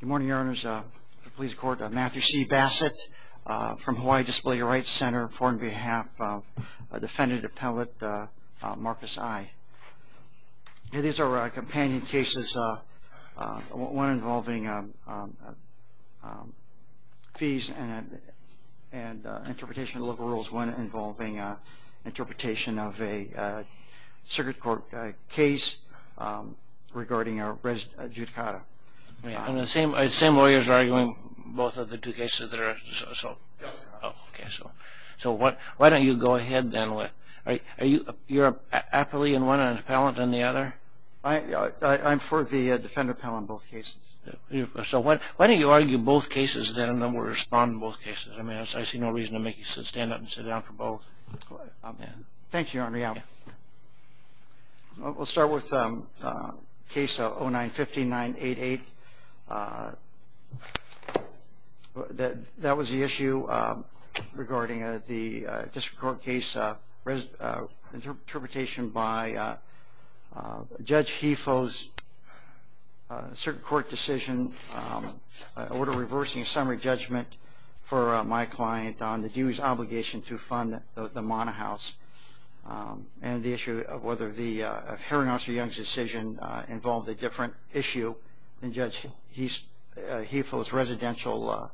Good morning, Your Honors. The Police Court, Matthew C. Bassett from Hawaii Disability Rights Center, before and behalf of defendant appellate Marcus I. These are our companion cases, one involving fees and interpretation of local rules, one involving interpretation of a circuit court case regarding a I'm the same lawyers arguing both of the two cases that are, so why don't you go ahead then. Are you appellee in one and appellate in the other? I'm for the defendant appellate in both cases. So why don't you argue both cases then and then we'll respond in both cases. I mean I see no reason to make you stand up and sit down for both. Thank you, Henrietta. We'll start with case 09-5988. That was the issue regarding the district court case interpretation by Judge Hefo's circuit court decision, order reversing a summary judgment for my client on the obligation to fund the Mana House and the issue of whether the Herringhouse or Young's decision involved a different issue than Judge Hefo's residential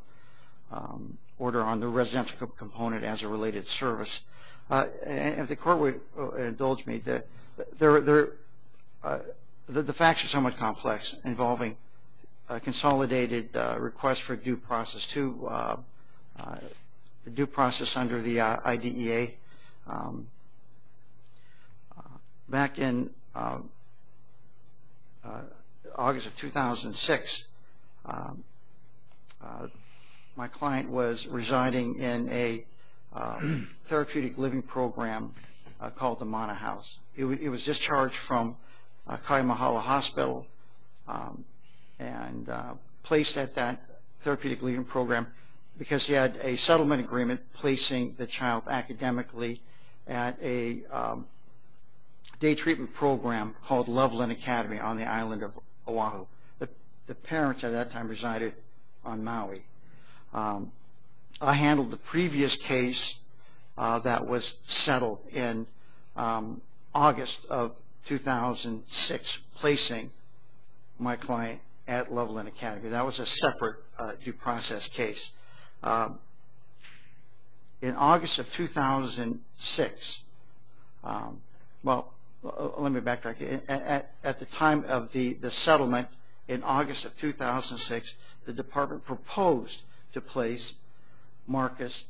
order on the residential component as a related service. If the court would indulge me, the facts are somewhat complex, involving a consolidated request for due process under the IDEA. Back in August of 2006, my client was residing in a and placed at that therapeutic leave-in program because he had a settlement agreement placing the child academically at a day treatment program called Loveland Academy on the island of Oahu. The parents at that time resided on Maui. I handled the my client at Loveland Academy. That was a separate due process case. In August of 2006, at the time of the settlement, in August of 2006, the department proposed to place Marcus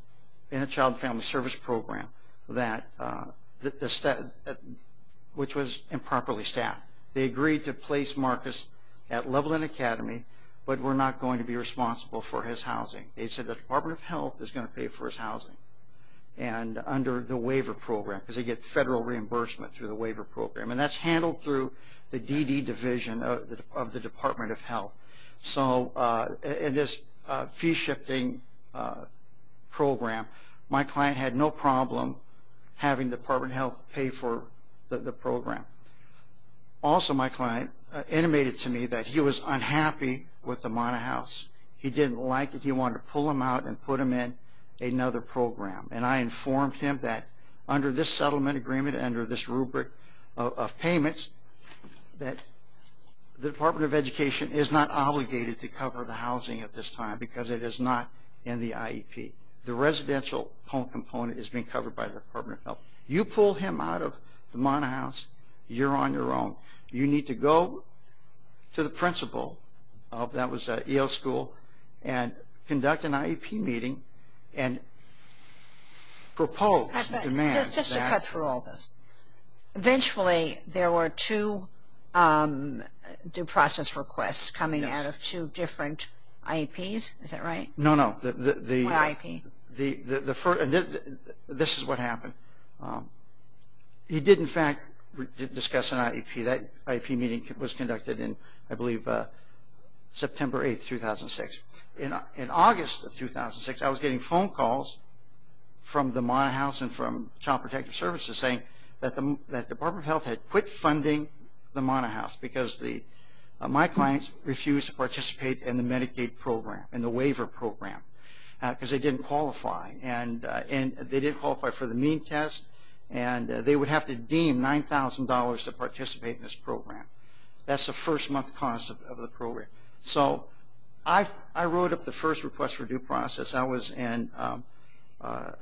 in a child and family service program, which was improperly staffed. They agreed to place Marcus at Loveland Academy, but were not going to be responsible for his housing. They said the Department of Health was going to pay for his housing under the waiver program because they get federal reimbursement through the waiver program. That's handled through the DD division of the Department of Health. In this fee-shifting program, my client had no problem having the Department of Health pay for the program. Also, my client intimated to me that he was unhappy with the Mauna House. He didn't like it. He wanted to pull him out and put him in another program. I informed him that under this settlement agreement, under this rubric of payments, that the Department of Education is not obligated to cover the housing at this time because it is not in the IEP. The residential home component is being covered by the Department of Health. You pull him out of the Mauna House, you're on your own. You need to go to the principal, that was at Yale School, and conduct an IEP meeting and propose the demands. Just to cut through all this, eventually there were two due process requests coming out of two different IEPs, is that right? No, no. This is what happened. He did in fact discuss an IEP. That IEP meeting was conducted in September 8, 2006. In August of 2006, I was getting phone calls from the Mauna House and from Child Protective Services saying that the Department of Health had quit funding the Mauna House because my clients refused to participate in the Medicaid program, in the waiver program, because they didn't qualify. They didn't qualify for the mean test and they would have to deem $9,000 to participate in this program. That's the first month cost of the program. So, I wrote up the first request for due process. I was in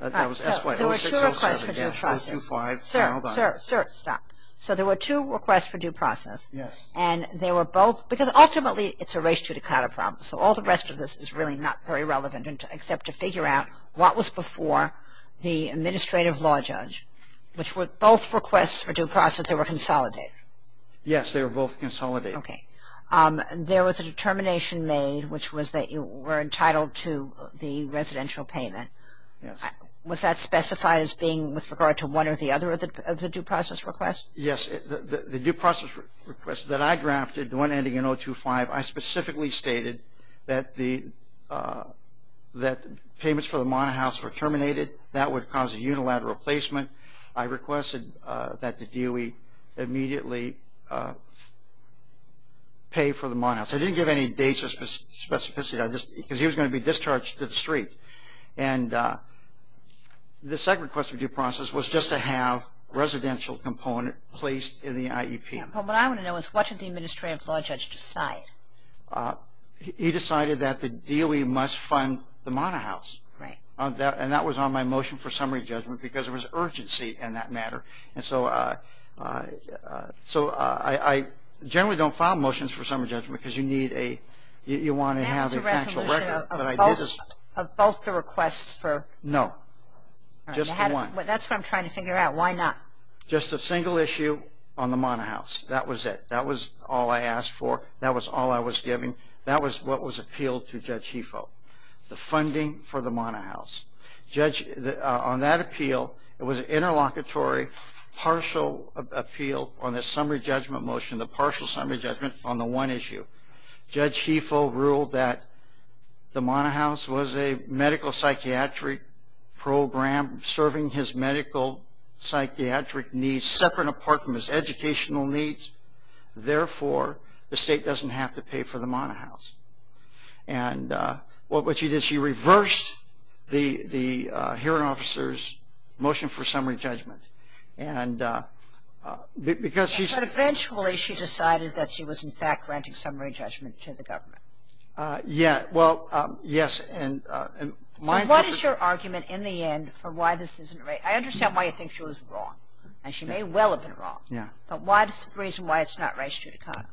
SY 06, 07, 05. Sir, sir, sir, stop. So, there were two requests for due process. Yes. And they were both, because ultimately it's a race to decata problem, so all the rest of this is really not very relevant, except to figure out what was before the administrative law judge, which were both requests for due process that were consolidated. Yes, they were both consolidated. Okay. There was a determination made, which was that you were entitled to the residential payment. Yes. Was that specified as being with regard to one or the other of the due process request? Yes. The due process request that I drafted, the one ending in 025, I specifically stated that the payments for the Mauna House were terminated. That would cause a unilateral replacement. I requested that the DOE immediately pay for the Mauna House. I didn't give any dates or specificity, because he was going to be discharged to the street. And the second request for due process was just to have residential component placed in the IEP. What I want to know is what did the administrative law judge decide? He decided that the DOE must fund the Mauna House. Right. And that was on my motion for summary judgment, because there was urgency in that matter. And so I generally don't file motions for summary judgment, because you need a – you want to have an actual record. That was a resolution of both the requests for – No. Just the one. That's what I'm trying to figure out. Why not? Just a single issue on the Mauna House. That was it. That was all I asked for. That was all I was given. That was what was appealed to Judge Hefo, the funding for the Mauna House. Judge – on that appeal, it was an interlocutory partial appeal on the summary judgment motion, the partial summary judgment on the one issue. Judge Hefo ruled that the Mauna House was a medical psychiatric program serving his medical psychiatric needs separate and apart from his educational needs. Therefore, the state doesn't have to pay for the Mauna House. And what she did, she reversed the hearing officer's motion for summary judgment. And because she's – But eventually she decided that she was in fact granting summary judgment to the government. Yeah. Well, yes. And my – So what is your argument in the end for why this isn't right? I understand why you think she was wrong. And she may well have been wrong. Yeah. But what is the reason why it's not res judicata?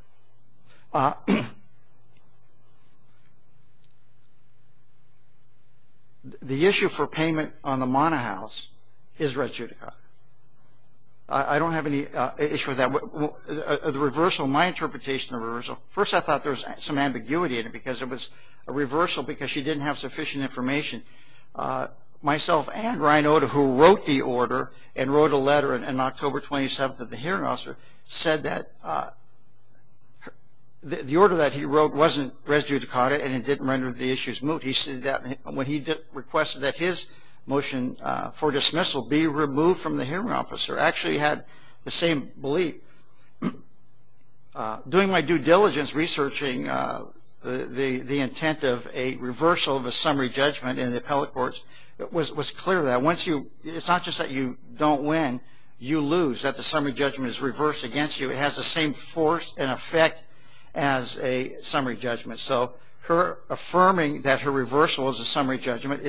The issue for payment on the Mauna House is res judicata. I don't have any issue with that. The reversal – my interpretation of the reversal – first, I thought there was some ambiguity in it because it was a reversal because she didn't have sufficient information. Myself and Ryan Oda, who wrote the order and wrote a letter on October 27th of the hearing officer, said that the order that he wrote wasn't res judicata and it didn't render the issues moot. He said that when he requested that his motion for dismissal be removed from the hearing officer, actually had the same belief. Doing my due diligence researching the intent of a reversal of a summary judgment in the appellate courts, it was clear that once you – it's not just that you don't win, you lose, that the summary judgment is reversed against you. It has the same force and effect as a summary judgment. So her affirming that her reversal was a summary judgment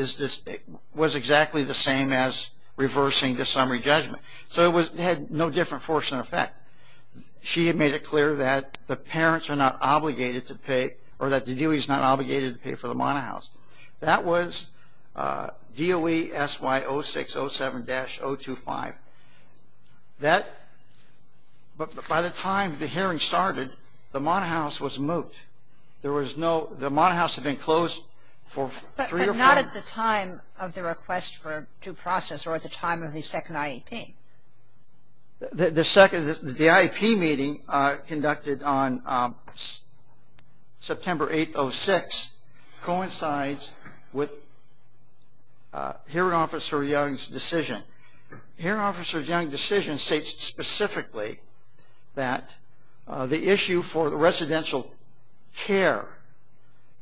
was exactly the same as reversing the summary judgment. So it had no different force and effect. She had made it clear that the parents are not obligated to pay or that the DOE is not obligated to pay for the monohouse. That was DOE SY 0607-025. That – by the time the hearing started, the monohouse was moot. There was no – the monohouse had been closed for three or four – Not at the time of the request for due process or at the time of the second IEP. The second – the IEP meeting conducted on September 8, 06, coincides with hearing officer Young's decision. Hearing officer Young's decision states specifically that the issue for residential care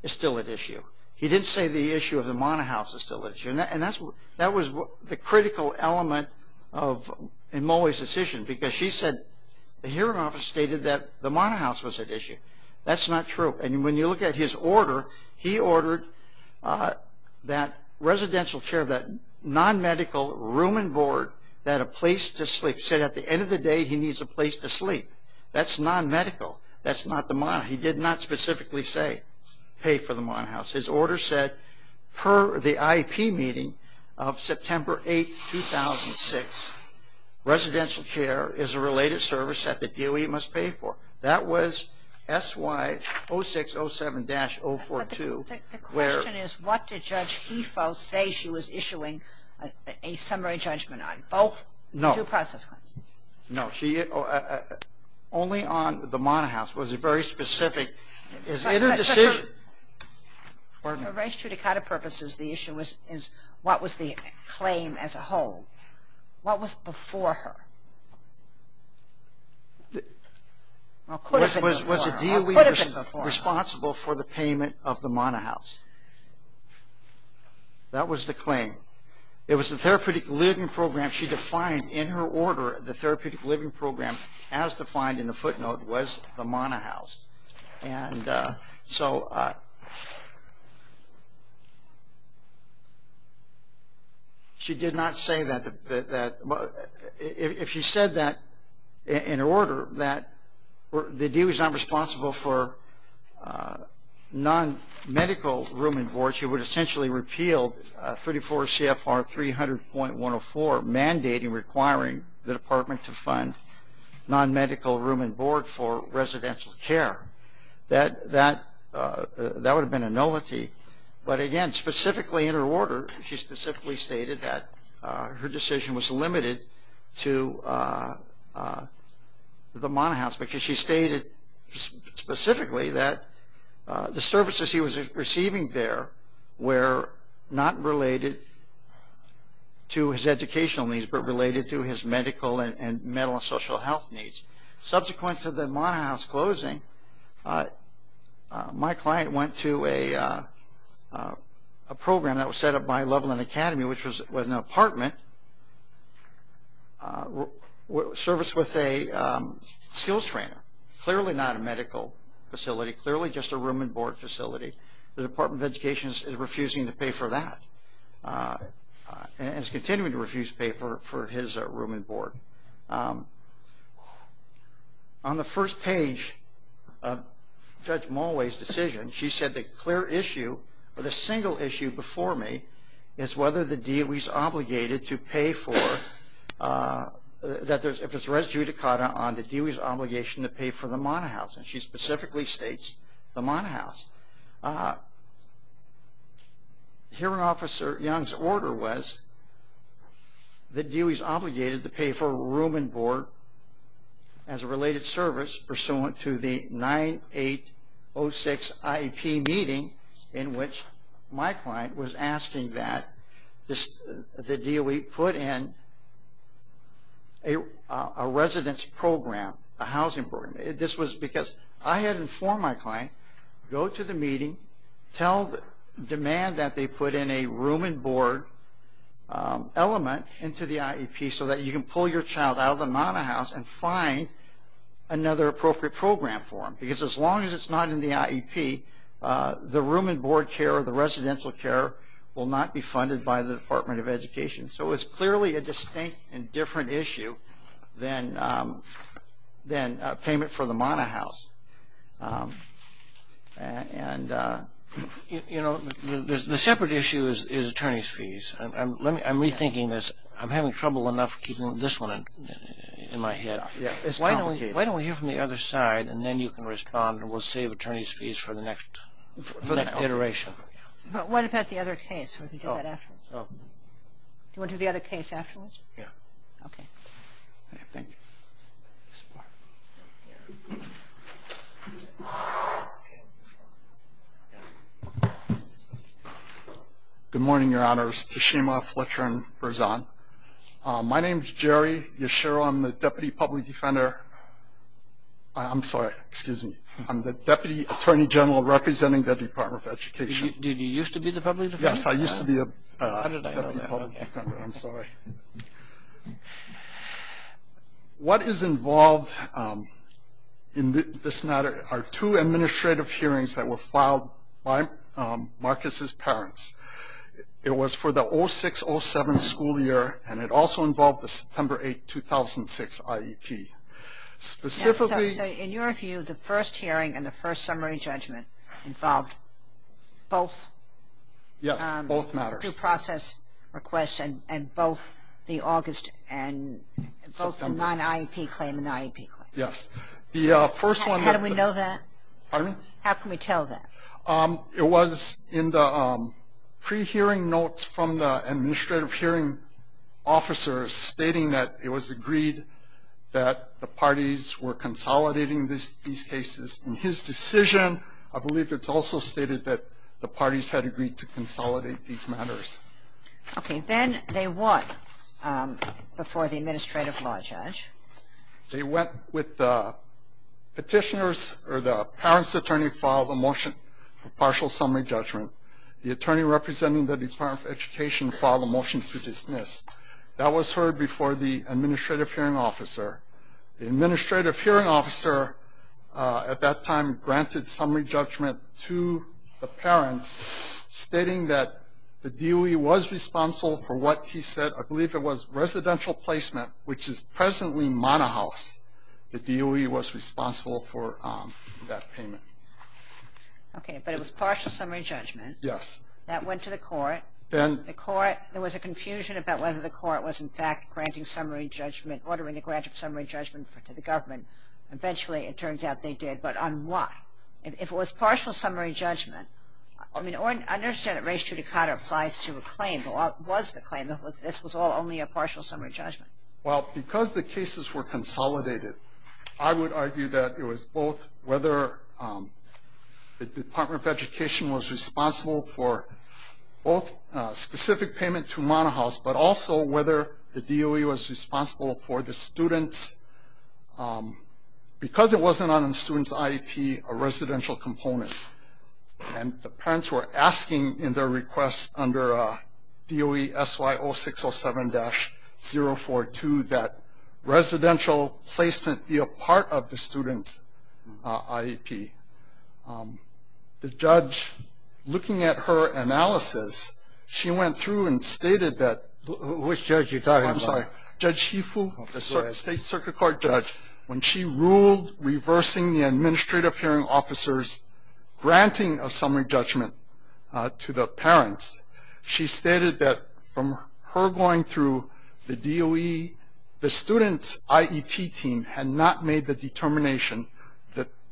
is still at issue. He didn't say the issue of the monohouse is still at issue. And that's – that was the critical element of Moe's decision because she said the hearing officer stated that the monohouse was at issue. That's not true. And when you look at his order, he ordered that residential care, that nonmedical room and board, that a place to sleep. He said at the end of the day, he needs a place to sleep. That's nonmedical. That's not the monohouse. He did not specifically say pay for the monohouse. His order said per the IEP meeting of September 8, 2006, residential care is a related service that the DOE must pay for. That was SY 0607-042. But the question is what did Judge Hefo say she was issuing a summary judgment on? Both due process claims. No. Only on the monohouse was it very specific. Is it a decision? For Rice Trudicata purposes, the issue is what was the claim as a whole. What was before her? Was the DOE responsible for the payment of the monohouse? That was the claim. It was the therapeutic living program she defined in her order, the therapeutic living program as defined in the footnote was the monohouse. And so she did not say that. If she said that in her order that the DOE is not responsible for nonmedical room and board, she would essentially repeal 34 CFR 300.104, mandating requiring the department to fund nonmedical room and board for residential care. That would have been a nullity. But, again, specifically in her order, she specifically stated that her decision was limited to the monohouse because she stated specifically that the services he was receiving there were not related to his educational needs, but related to his medical and mental and social health needs. Subsequent to the monohouse closing, my client went to a program that was set up by Loveland Academy, which was an apartment, serviced with a skills trainer, clearly not a medical facility, clearly just a room and board facility. The Department of Education is refusing to pay for that and is continuing to refuse to pay for his room and board. On the first page of Judge Mulway's decision, she said the clear issue, or the single issue before me, is whether the DOE is obligated to pay for, if it's res judicata on the DOE's obligation to pay for the monohouse. And she specifically states the monohouse. Hearing Officer Young's order was the DOE is obligated to pay for room and board as a related service pursuant to the 9806 IEP meeting in which my client was asking that the DOE put in a residence program, a housing program. This was because I had informed my client, go to the meeting, demand that they put in a room and board element into the IEP so that you can pull your child out of the monohouse and find another appropriate program for him. Because as long as it's not in the IEP, the room and board care or the residential care will not be funded by the Department of Education. So it's clearly a distinct and different issue than payment for the monohouse. You know, the separate issue is attorney's fees. I'm rethinking this. I'm having trouble enough keeping this one in my head. Why don't we hear from the other side, and then you can respond and we'll save attorney's fees for the next iteration. But what about the other case? Do you want to do the other case afterwards? Yeah. Okay. Thank you. This part. Good morning, Your Honors. Tashima Fletcher and Berzan. My name is Jerry Yashiro. I'm the Deputy Public Defender. I'm sorry. Excuse me. I'm the Deputy Attorney General representing the Department of Education. Did you used to be the public defender? Yes, I used to be a public defender. I'm sorry. Okay. What is involved in this matter are two administrative hearings that were filed by Marcus's parents. It was for the 06-07 school year, and it also involved the September 8, 2006 IEP. Specifically. So in your view, the first hearing and the first summary judgment involved both? Yes, both matters. The review process request and both the August and both the non-IEP claim and the IEP claim. Yes. The first one. How do we know that? Pardon me? How can we tell that? It was in the pre-hearing notes from the administrative hearing officers stating that it was agreed that the parties were consolidating these cases. In his decision, I believe it's also stated that the parties had agreed to consolidate these matters. Okay. Then they went before the administrative law judge. They went with the petitioner's or the parent's attorney filed a motion for partial summary judgment. The attorney representing the Department of Education filed a motion to dismiss. That was heard before the administrative hearing officer. The administrative hearing officer at that time granted summary judgment to the parents stating that the DOE was responsible for what he said. I believe it was residential placement, which is presently Mana House. The DOE was responsible for that payment. Okay. But it was partial summary judgment. Yes. That went to the court. Then the court, there was a confusion about whether the court was, in fact, granting summary judgment, ordering a grant of summary judgment to the government. Eventually, it turns out they did, but on what? If it was partial summary judgment, I mean, I understand that race judicata applies to a claim, but what was the claim if this was all only a partial summary judgment? Well, because the cases were consolidated, I would argue that it was both whether the Department of Education was responsible for both specific payment to Mana House, but also whether the DOE was responsible for the students. Because it wasn't on the student's IEP, a residential component, and the parents were asking in their request under DOE-SY-0607-042 that residential placement be a part of the student's IEP. The judge, looking at her analysis, she went through and stated that Which judge are you talking about? I'm sorry. Judge Hifu, the state circuit court judge. When she ruled reversing the administrative hearing officer's granting of summary judgment to the parents, she stated that from her going through the DOE, the student's IEP team had not made the determination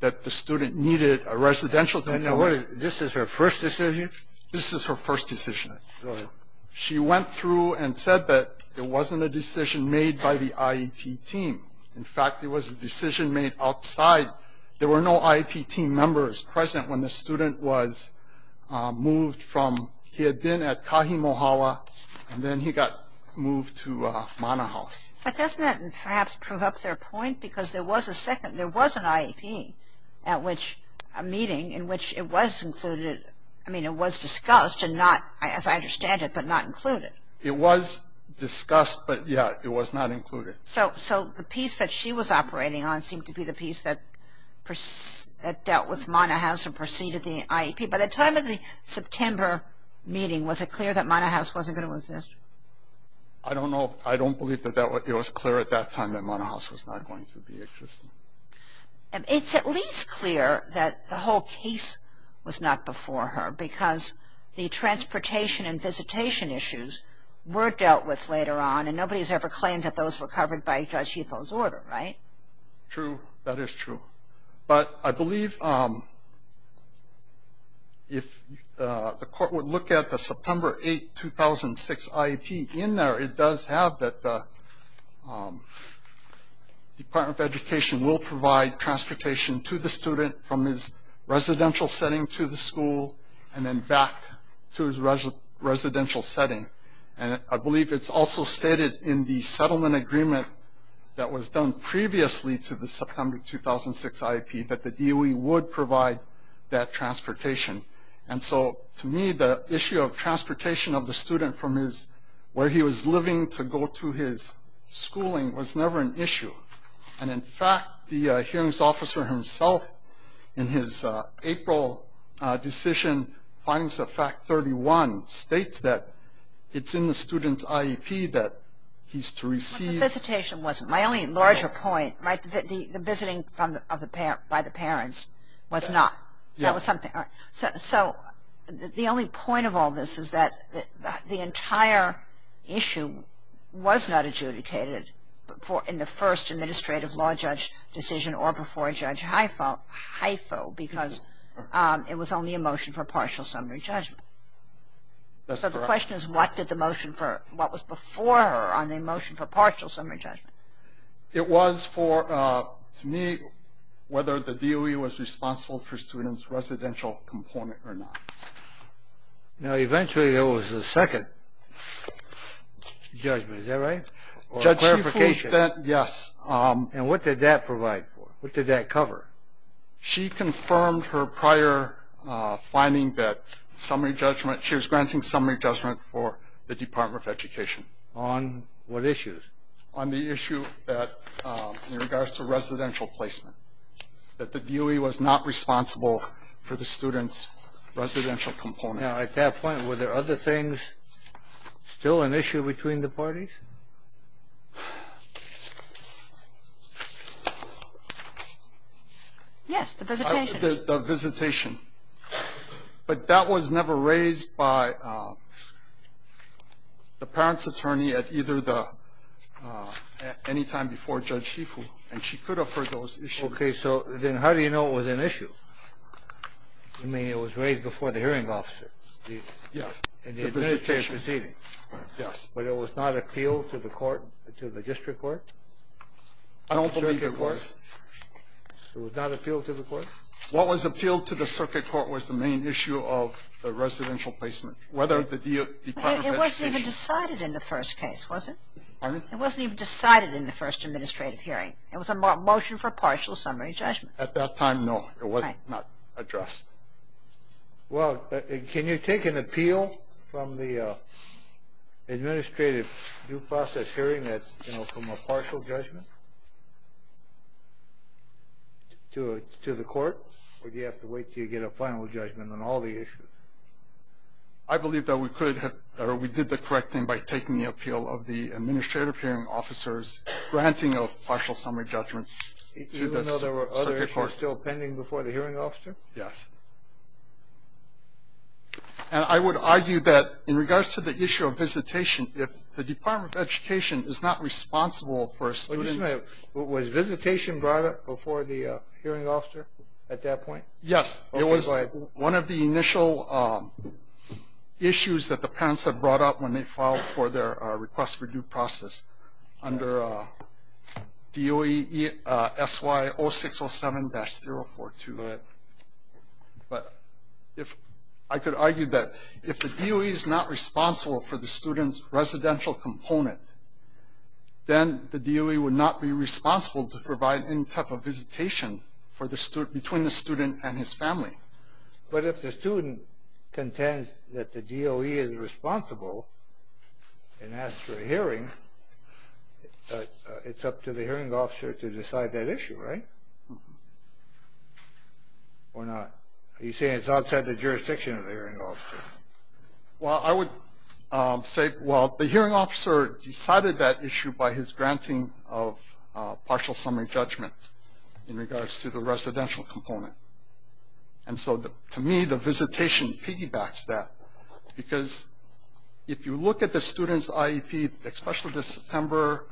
that the student needed a residential component. Wait a minute. This is her first decision? This is her first decision. Go ahead. She went through and said that it wasn't a decision made by the IEP team. In fact, it was a decision made outside. There were no IEP team members present when the student was moved from He had been at Kahimohawa, and then he got moved to Mana House. But doesn't that perhaps prove up their point? Because there was a second, there was an IEP at which a meeting in which it was included, I mean it was discussed and not, as I understand it, but not included. It was discussed, but yeah, it was not included. So the piece that she was operating on seemed to be the piece that dealt with Mana House and preceded the IEP. By the time of the September meeting, was it clear that Mana House wasn't going to exist? I don't know. I don't believe that it was clear at that time that Mana House was not going to be existing. It's at least clear that the whole case was not before her because the transportation and visitation issues were dealt with later on, and nobody has ever claimed that those were covered by Judge Ito's order, right? True. That is true. But I believe if the court would look at the September 8, 2006 IEP, in there it does have that the Department of Education will provide transportation to the student from his residential setting to the school and then back to his residential setting. And I believe it's also stated in the settlement agreement that was done previously to the September 2006 IEP that the DOE would provide that transportation. And so to me, the issue of transportation of the student from where he was living to go to his schooling was never an issue. And in fact, the hearings officer himself, in his April decision, in findings of fact 31, states that it's in the student's IEP that he's to receive. But the visitation wasn't. My only larger point, the visiting by the parents was not. That was something. So the only point of all this is that the entire issue was not adjudicated in the first administrative law judge decision or before Judge Haifa because it was only a motion for partial summary judgment. That's correct. So the question is what was before her on the motion for partial summary judgment? It was for, to me, whether the DOE was responsible for students' residential employment or not. Now, eventually there was a second judgment. Is that right? Or a clarification? Yes. And what did that provide for? What did that cover? She confirmed her prior finding that she was granting summary judgment for the Department of Education. On what issues? On the issue in regards to residential placement, that the DOE was not responsible for the student's residential component. Now, at that point, were there other things still an issue between the parties? Yes, the visitation. The visitation. But that was never raised by the parents' attorney at either the any time before Judge Haifa, and she could have heard those issues. Okay. So then how do you know it was an issue? I mean, it was raised before the hearing officer. Yes. In the administrative proceeding. Yes. But it was not appealed to the court, to the district court? I don't believe it was. It was not appealed to the court? What was appealed to the circuit court was the main issue of the residential placement, whether the Department of Education. It wasn't even decided in the first case, was it? Pardon? It wasn't even decided in the first administrative hearing. It was a motion for partial summary judgment. At that time, no, it was not addressed. Well, can you take an appeal from the administrative due process hearing, you know, from a partial judgment to the court, or do you have to wait until you get a final judgment on all the issues? I believe that we did the correct thing by taking the appeal of the administrative hearing officers, granting a partial summary judgment to the circuit court. Did you know there were other issues still pending before the hearing officer? Yes. And I would argue that in regards to the issue of visitation, if the Department of Education is not responsible for students. Was visitation brought up before the hearing officer at that point? Yes. It was one of the initial issues that the parents had brought up when they filed for their request for due process under DOE SY 0607-042. But I could argue that if the DOE is not responsible for the student's residential component, then the DOE would not be responsible to provide any type of visitation between the student and his family. But if the student contends that the DOE is responsible and asks for a hearing, it's up to the hearing officer to decide that issue, right? Or not? Are you saying it's outside the jurisdiction of the hearing officer? Well, I would say, well, the hearing officer decided that issue by his granting of partial summary judgment in regards to the residential component. And so, to me, the visitation piggybacks that. Because if you look at the student's IEP, especially the September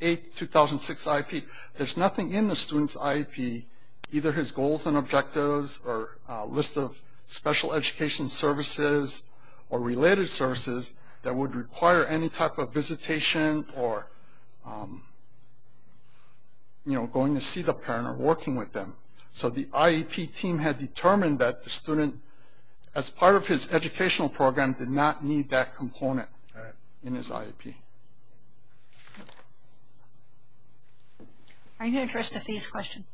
8, 2006 IEP, there's nothing in the student's IEP, either his goals and objectives or list of special education services or related services that would require any type of visitation or, you know, going to see the parent or working with them. So the IEP team had determined that the student, as part of his educational program, did not need that component in his IEP. Are you going to address the fees question?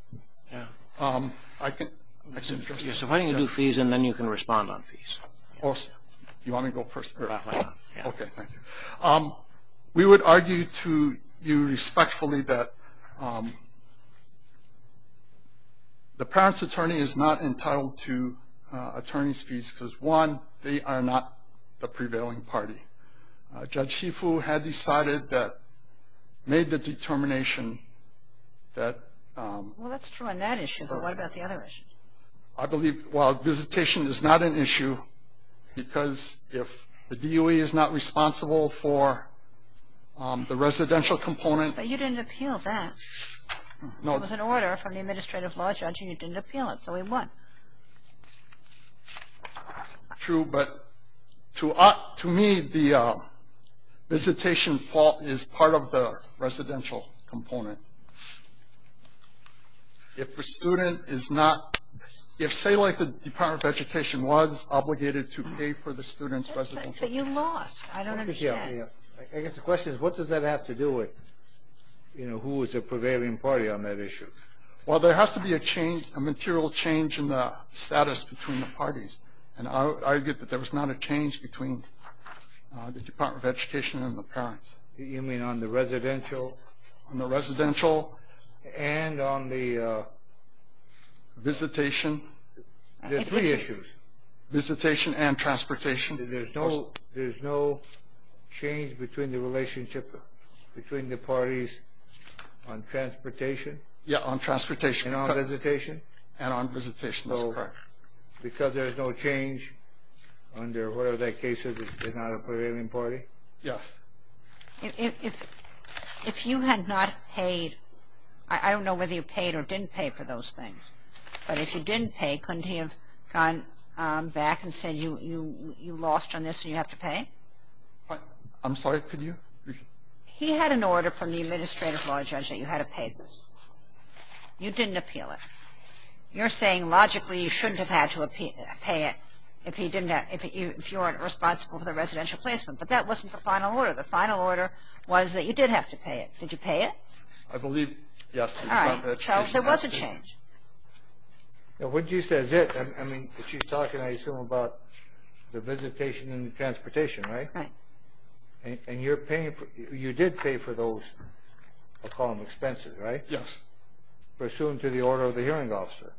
Yeah. I can address that. Yeah, so why don't you do fees and then you can respond on fees. Yeah. Okay, thank you. We would argue to you respectfully that the parent's attorney is not entitled to attorney's fees because, one, they are not the prevailing party. Judge Shifu had decided that, made the determination that... Well, that's true on that issue, but what about the other issues? I believe, well, visitation is not an issue because if the DOE is not responsible for the residential component... But you didn't appeal that. No. It was an order from the administrative law judge and you didn't appeal it, so we won. True, but to me, the visitation fault is part of the residential component. If a student is not... If, say, like the Department of Education was obligated to pay for the student's residential... But you lost. I don't understand. I guess the question is, what does that have to do with, you know, who is the prevailing party on that issue? Well, there has to be a change, a material change in the status between the parties, and I would argue that there was not a change between the Department of Education and the parents. You mean on the residential? On the residential and on the visitation. There's three issues. Visitation and transportation. There's no change between the relationship between the parties on transportation. Yeah, on transportation. And on visitation. And on visitation, that's correct. So because there's no change under whatever that case is, it's not a prevailing party? Yes. If you had not paid... I don't know whether you paid or didn't pay for those things. But if you didn't pay, couldn't he have gone back and said you lost on this and you have to pay? I'm sorry, could you? He had an order from the Administrative Law Judge that you had to pay this. You didn't appeal it. You're saying logically you shouldn't have had to pay it if you weren't responsible for the residential placement. But that wasn't the final order. The final order was that you did have to pay it. Did you pay it? I believe, yes. So there was a change. What you said is it. I mean, she's talking, I assume, about the visitation and the transportation, right? Right. And you did pay for those, I'll call them expenses, right? Yes. Pursuant to the order of the hearing officer.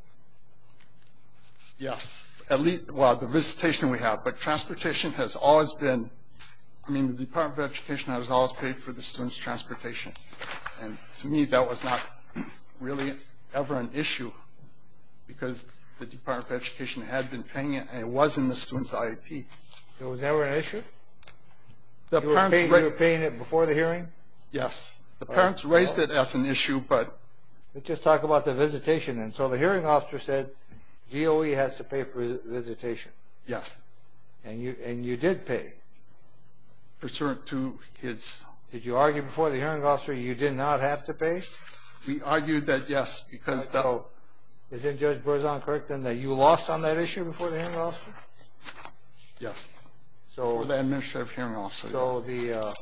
Yes. Well, the visitation we have, but transportation has always been, I mean, the Department of Education has always paid for the students' transportation. And to me that was not really ever an issue because the Department of Education had been paying it and it was in the students' IEP. It was never an issue? You were paying it before the hearing? Yes. The parents raised it as an issue, but. Let's just talk about the visitation. So the hearing officer said DOE has to pay for the visitation. Yes. And you did pay? Pursuant to his. Did you argue before the hearing officer you did not have to pay? We argued that, yes, because. So isn't Judge Berzon correct in that you lost on that issue before the hearing officer? Yes. Over the administrative hearing officer, yes. So the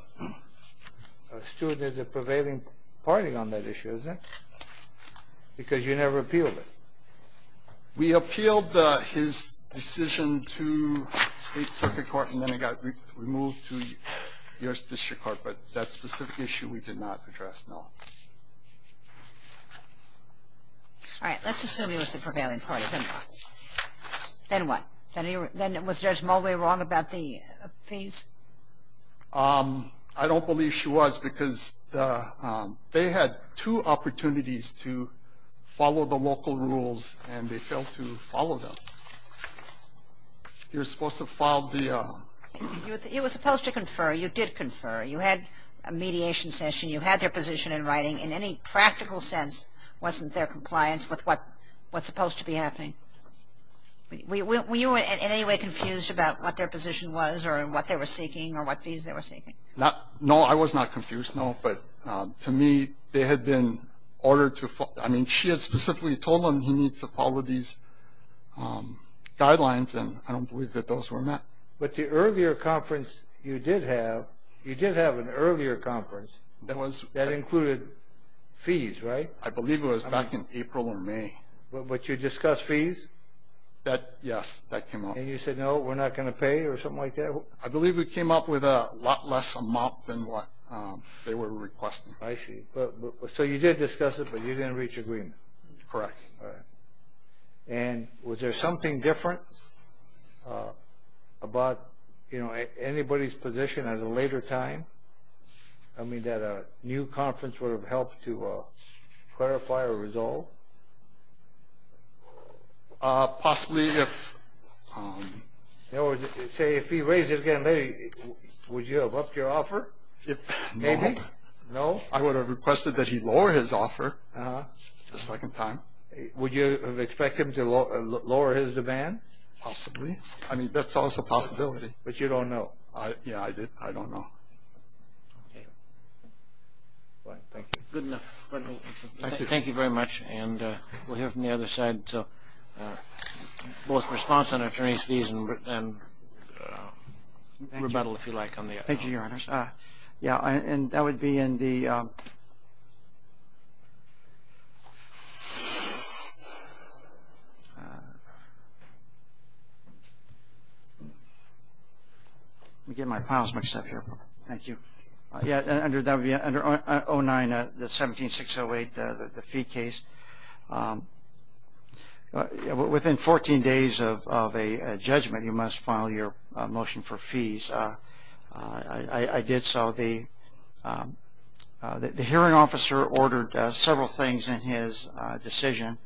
student is a prevailing party on that issue, isn't it? Because you never appealed it. We appealed his decision to State Circuit Court and then it got removed to the District Court, but that specific issue we did not address, no. All right. Let's assume he was the prevailing party, then what? Then what? Then was Judge Mulvey wrong about the fees? I don't believe she was because they had two opportunities to follow the local rules and they failed to follow them. You were supposed to file the... You were supposed to confer. You did confer. You had a mediation session. You had their position in writing. In any practical sense, wasn't there compliance with what's supposed to be happening? Were you in any way confused about what their position was or what they were seeking or what fees they were seeking? No, I was not confused, no. But to me, they had been ordered to... I mean, she had specifically told him he needed to follow these guidelines and I don't believe that those were met. But the earlier conference you did have, you did have an earlier conference that included fees, right? I believe it was back in April or May. But you discussed fees? Yes, that came up. And you said, no, we're not going to pay or something like that? I believe we came up with a lot less amount than what they were requesting. I see. So you did discuss it, but you didn't reach agreement? Correct. And was there something different about anybody's position at a later time? I mean, that a new conference would have helped to clarify or resolve? Possibly if... Say, if he raised it again later, would you have upped your offer? Maybe? No. No? I would have requested that he lower his offer a second time. Would you have expected him to lower his demand? Possibly. I mean, that's also a possibility. But you don't know? Yeah, I don't know. Okay. Thank you. Good enough. Thank you very much. And we'll hear from the other side, both response on attorney's fees and rebuttal, if you like. Thank you, Your Honor. Yeah, and that would be in the... Let me get my files mixed up here. Thank you. Yeah, under 09, the 17608, the fee case. Within 14 days of a judgment, you must file your motion for fees. I did so. The hearing officer ordered several things in his decision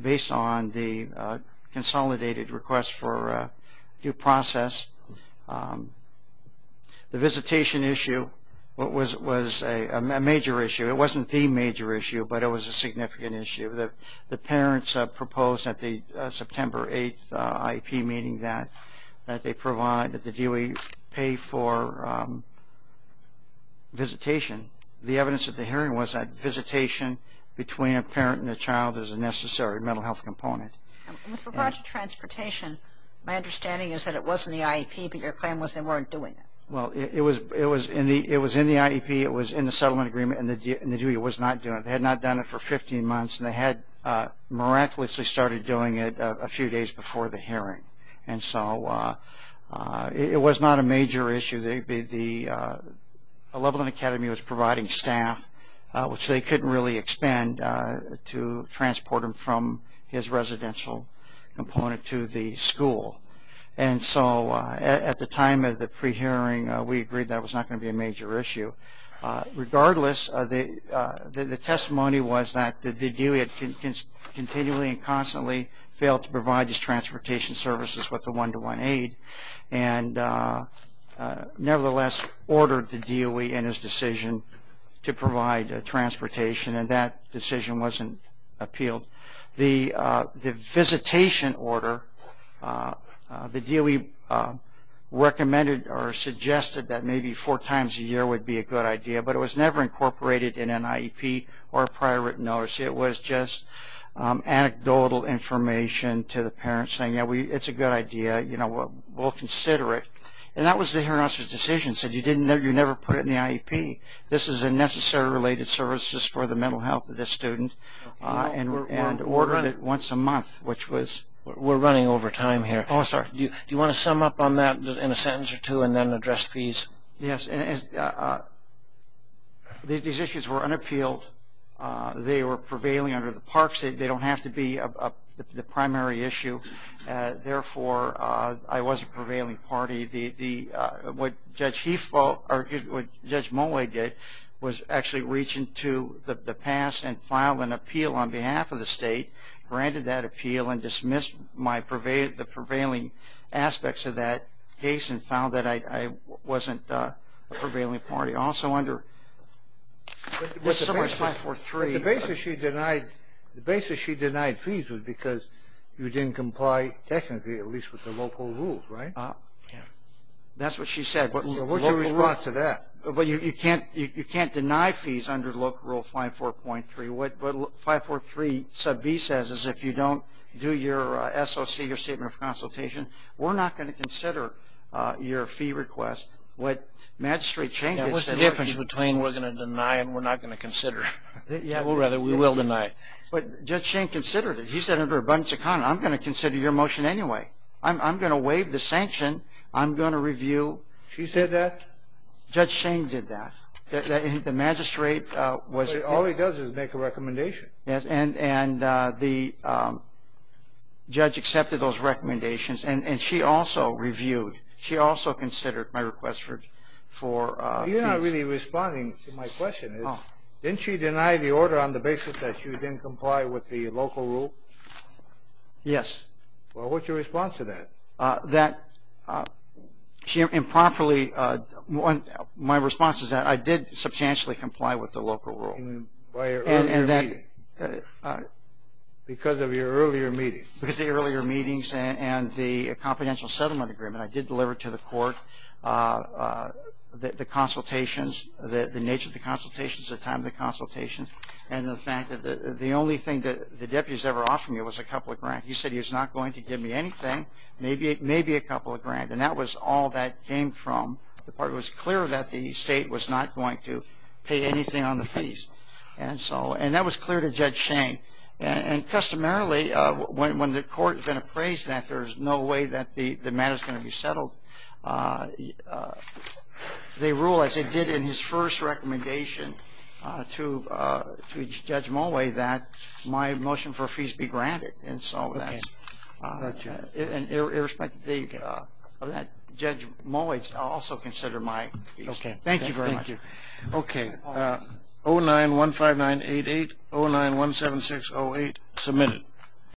based on the consolidated request for due process. The visitation issue was a major issue. It wasn't the major issue, but it was a significant issue. The parents proposed at the September 8th IEP meeting that they provide, that the DUI pay for visitation. The evidence at the hearing was that visitation between a parent and a child is a necessary mental health component. With regard to transportation, my understanding is that it was in the IEP, but your claim was they weren't doing it. Well, it was in the IEP. It was in the settlement agreement, and the DUI was not doing it. They had not done it for 15 months, and they had miraculously started doing it a few days before the hearing. And so it was not a major issue. The Lublin Academy was providing staff, which they couldn't really expend, to transport him from his residential component to the school. And so at the time of the pre-hearing, we agreed that was not going to be a major issue. Regardless, the testimony was that the DUI had continually and constantly failed to provide his transportation services with the one-to-one aid and nevertheless ordered the DUI in his decision to provide transportation, and that decision wasn't appealed. The visitation order, the DUI recommended or suggested that maybe four times a year would be a good idea, but it was never incorporated in an IEP or a prior written notice. It was just anecdotal information to the parent saying, yeah, it's a good idea, we'll consider it. And that was the hearing officer's decision. He said, you never put it in the IEP. This is a necessary related services for the mental health of this student and ordered it once a month, which was- We're running over time here. Oh, sorry. Do you want to sum up on that in a sentence or two and then address fees? Yes. These issues were unappealed. They were prevailing under the parks. They don't have to be the primary issue. Therefore, I was a prevailing party. What Judge Moway did was actually reach into the past and file an appeal on behalf of the state, granted that appeal and dismissed the prevailing aspects of that case and found that I wasn't a prevailing party. Also under- The basis she denied fees was because you didn't comply technically, at least with the local rules, right? That's what she said. What was your response to that? You can't deny fees under Local Rule 543. What 543 sub B says is if you don't do your SOC, your statement of consultation, we're not going to consider your fee request. What Magistrate Schenk has said- What's the difference between we're going to deny and we're not going to consider? We will deny. But Judge Schenk considered it. He said under abundance of common, I'm going to consider your motion anyway. I'm going to waive the sanction. I'm going to review- She said that? Judge Schenk did that. The Magistrate was- All he does is make a recommendation. And the judge accepted those recommendations and she also reviewed. She also considered my request for fees. You're not really responding to my question. Didn't she deny the order on the basis that you didn't comply with the local rule? Yes. Well, what's your response to that? That she improperly-my response is that I did substantially comply with the local rule. By your earlier meeting? Because of your earlier meetings. Because of the earlier meetings and the confidential settlement agreement. I did deliver to the court the consultations, the nature of the consultations, the time of the consultations, and the fact that the only thing that the deputy has ever offered me was a couple of grants. He said he was not going to give me anything, maybe a couple of grants. And that was all that came from. It was clear that the State was not going to pay anything on the fees. And that was clear to Judge Schenk. And customarily, when the court is going to appraise that, there's no way that the matter is going to be settled. They rule, as they did in his first recommendation to Judge Mulway, that my motion for fees be granted. And so that's it. And irrespective of that, Judge Mulway, I'll also consider my fees. Okay. Thank you very much. Thank you. Okay. 09-15988, 09-17608, submitted.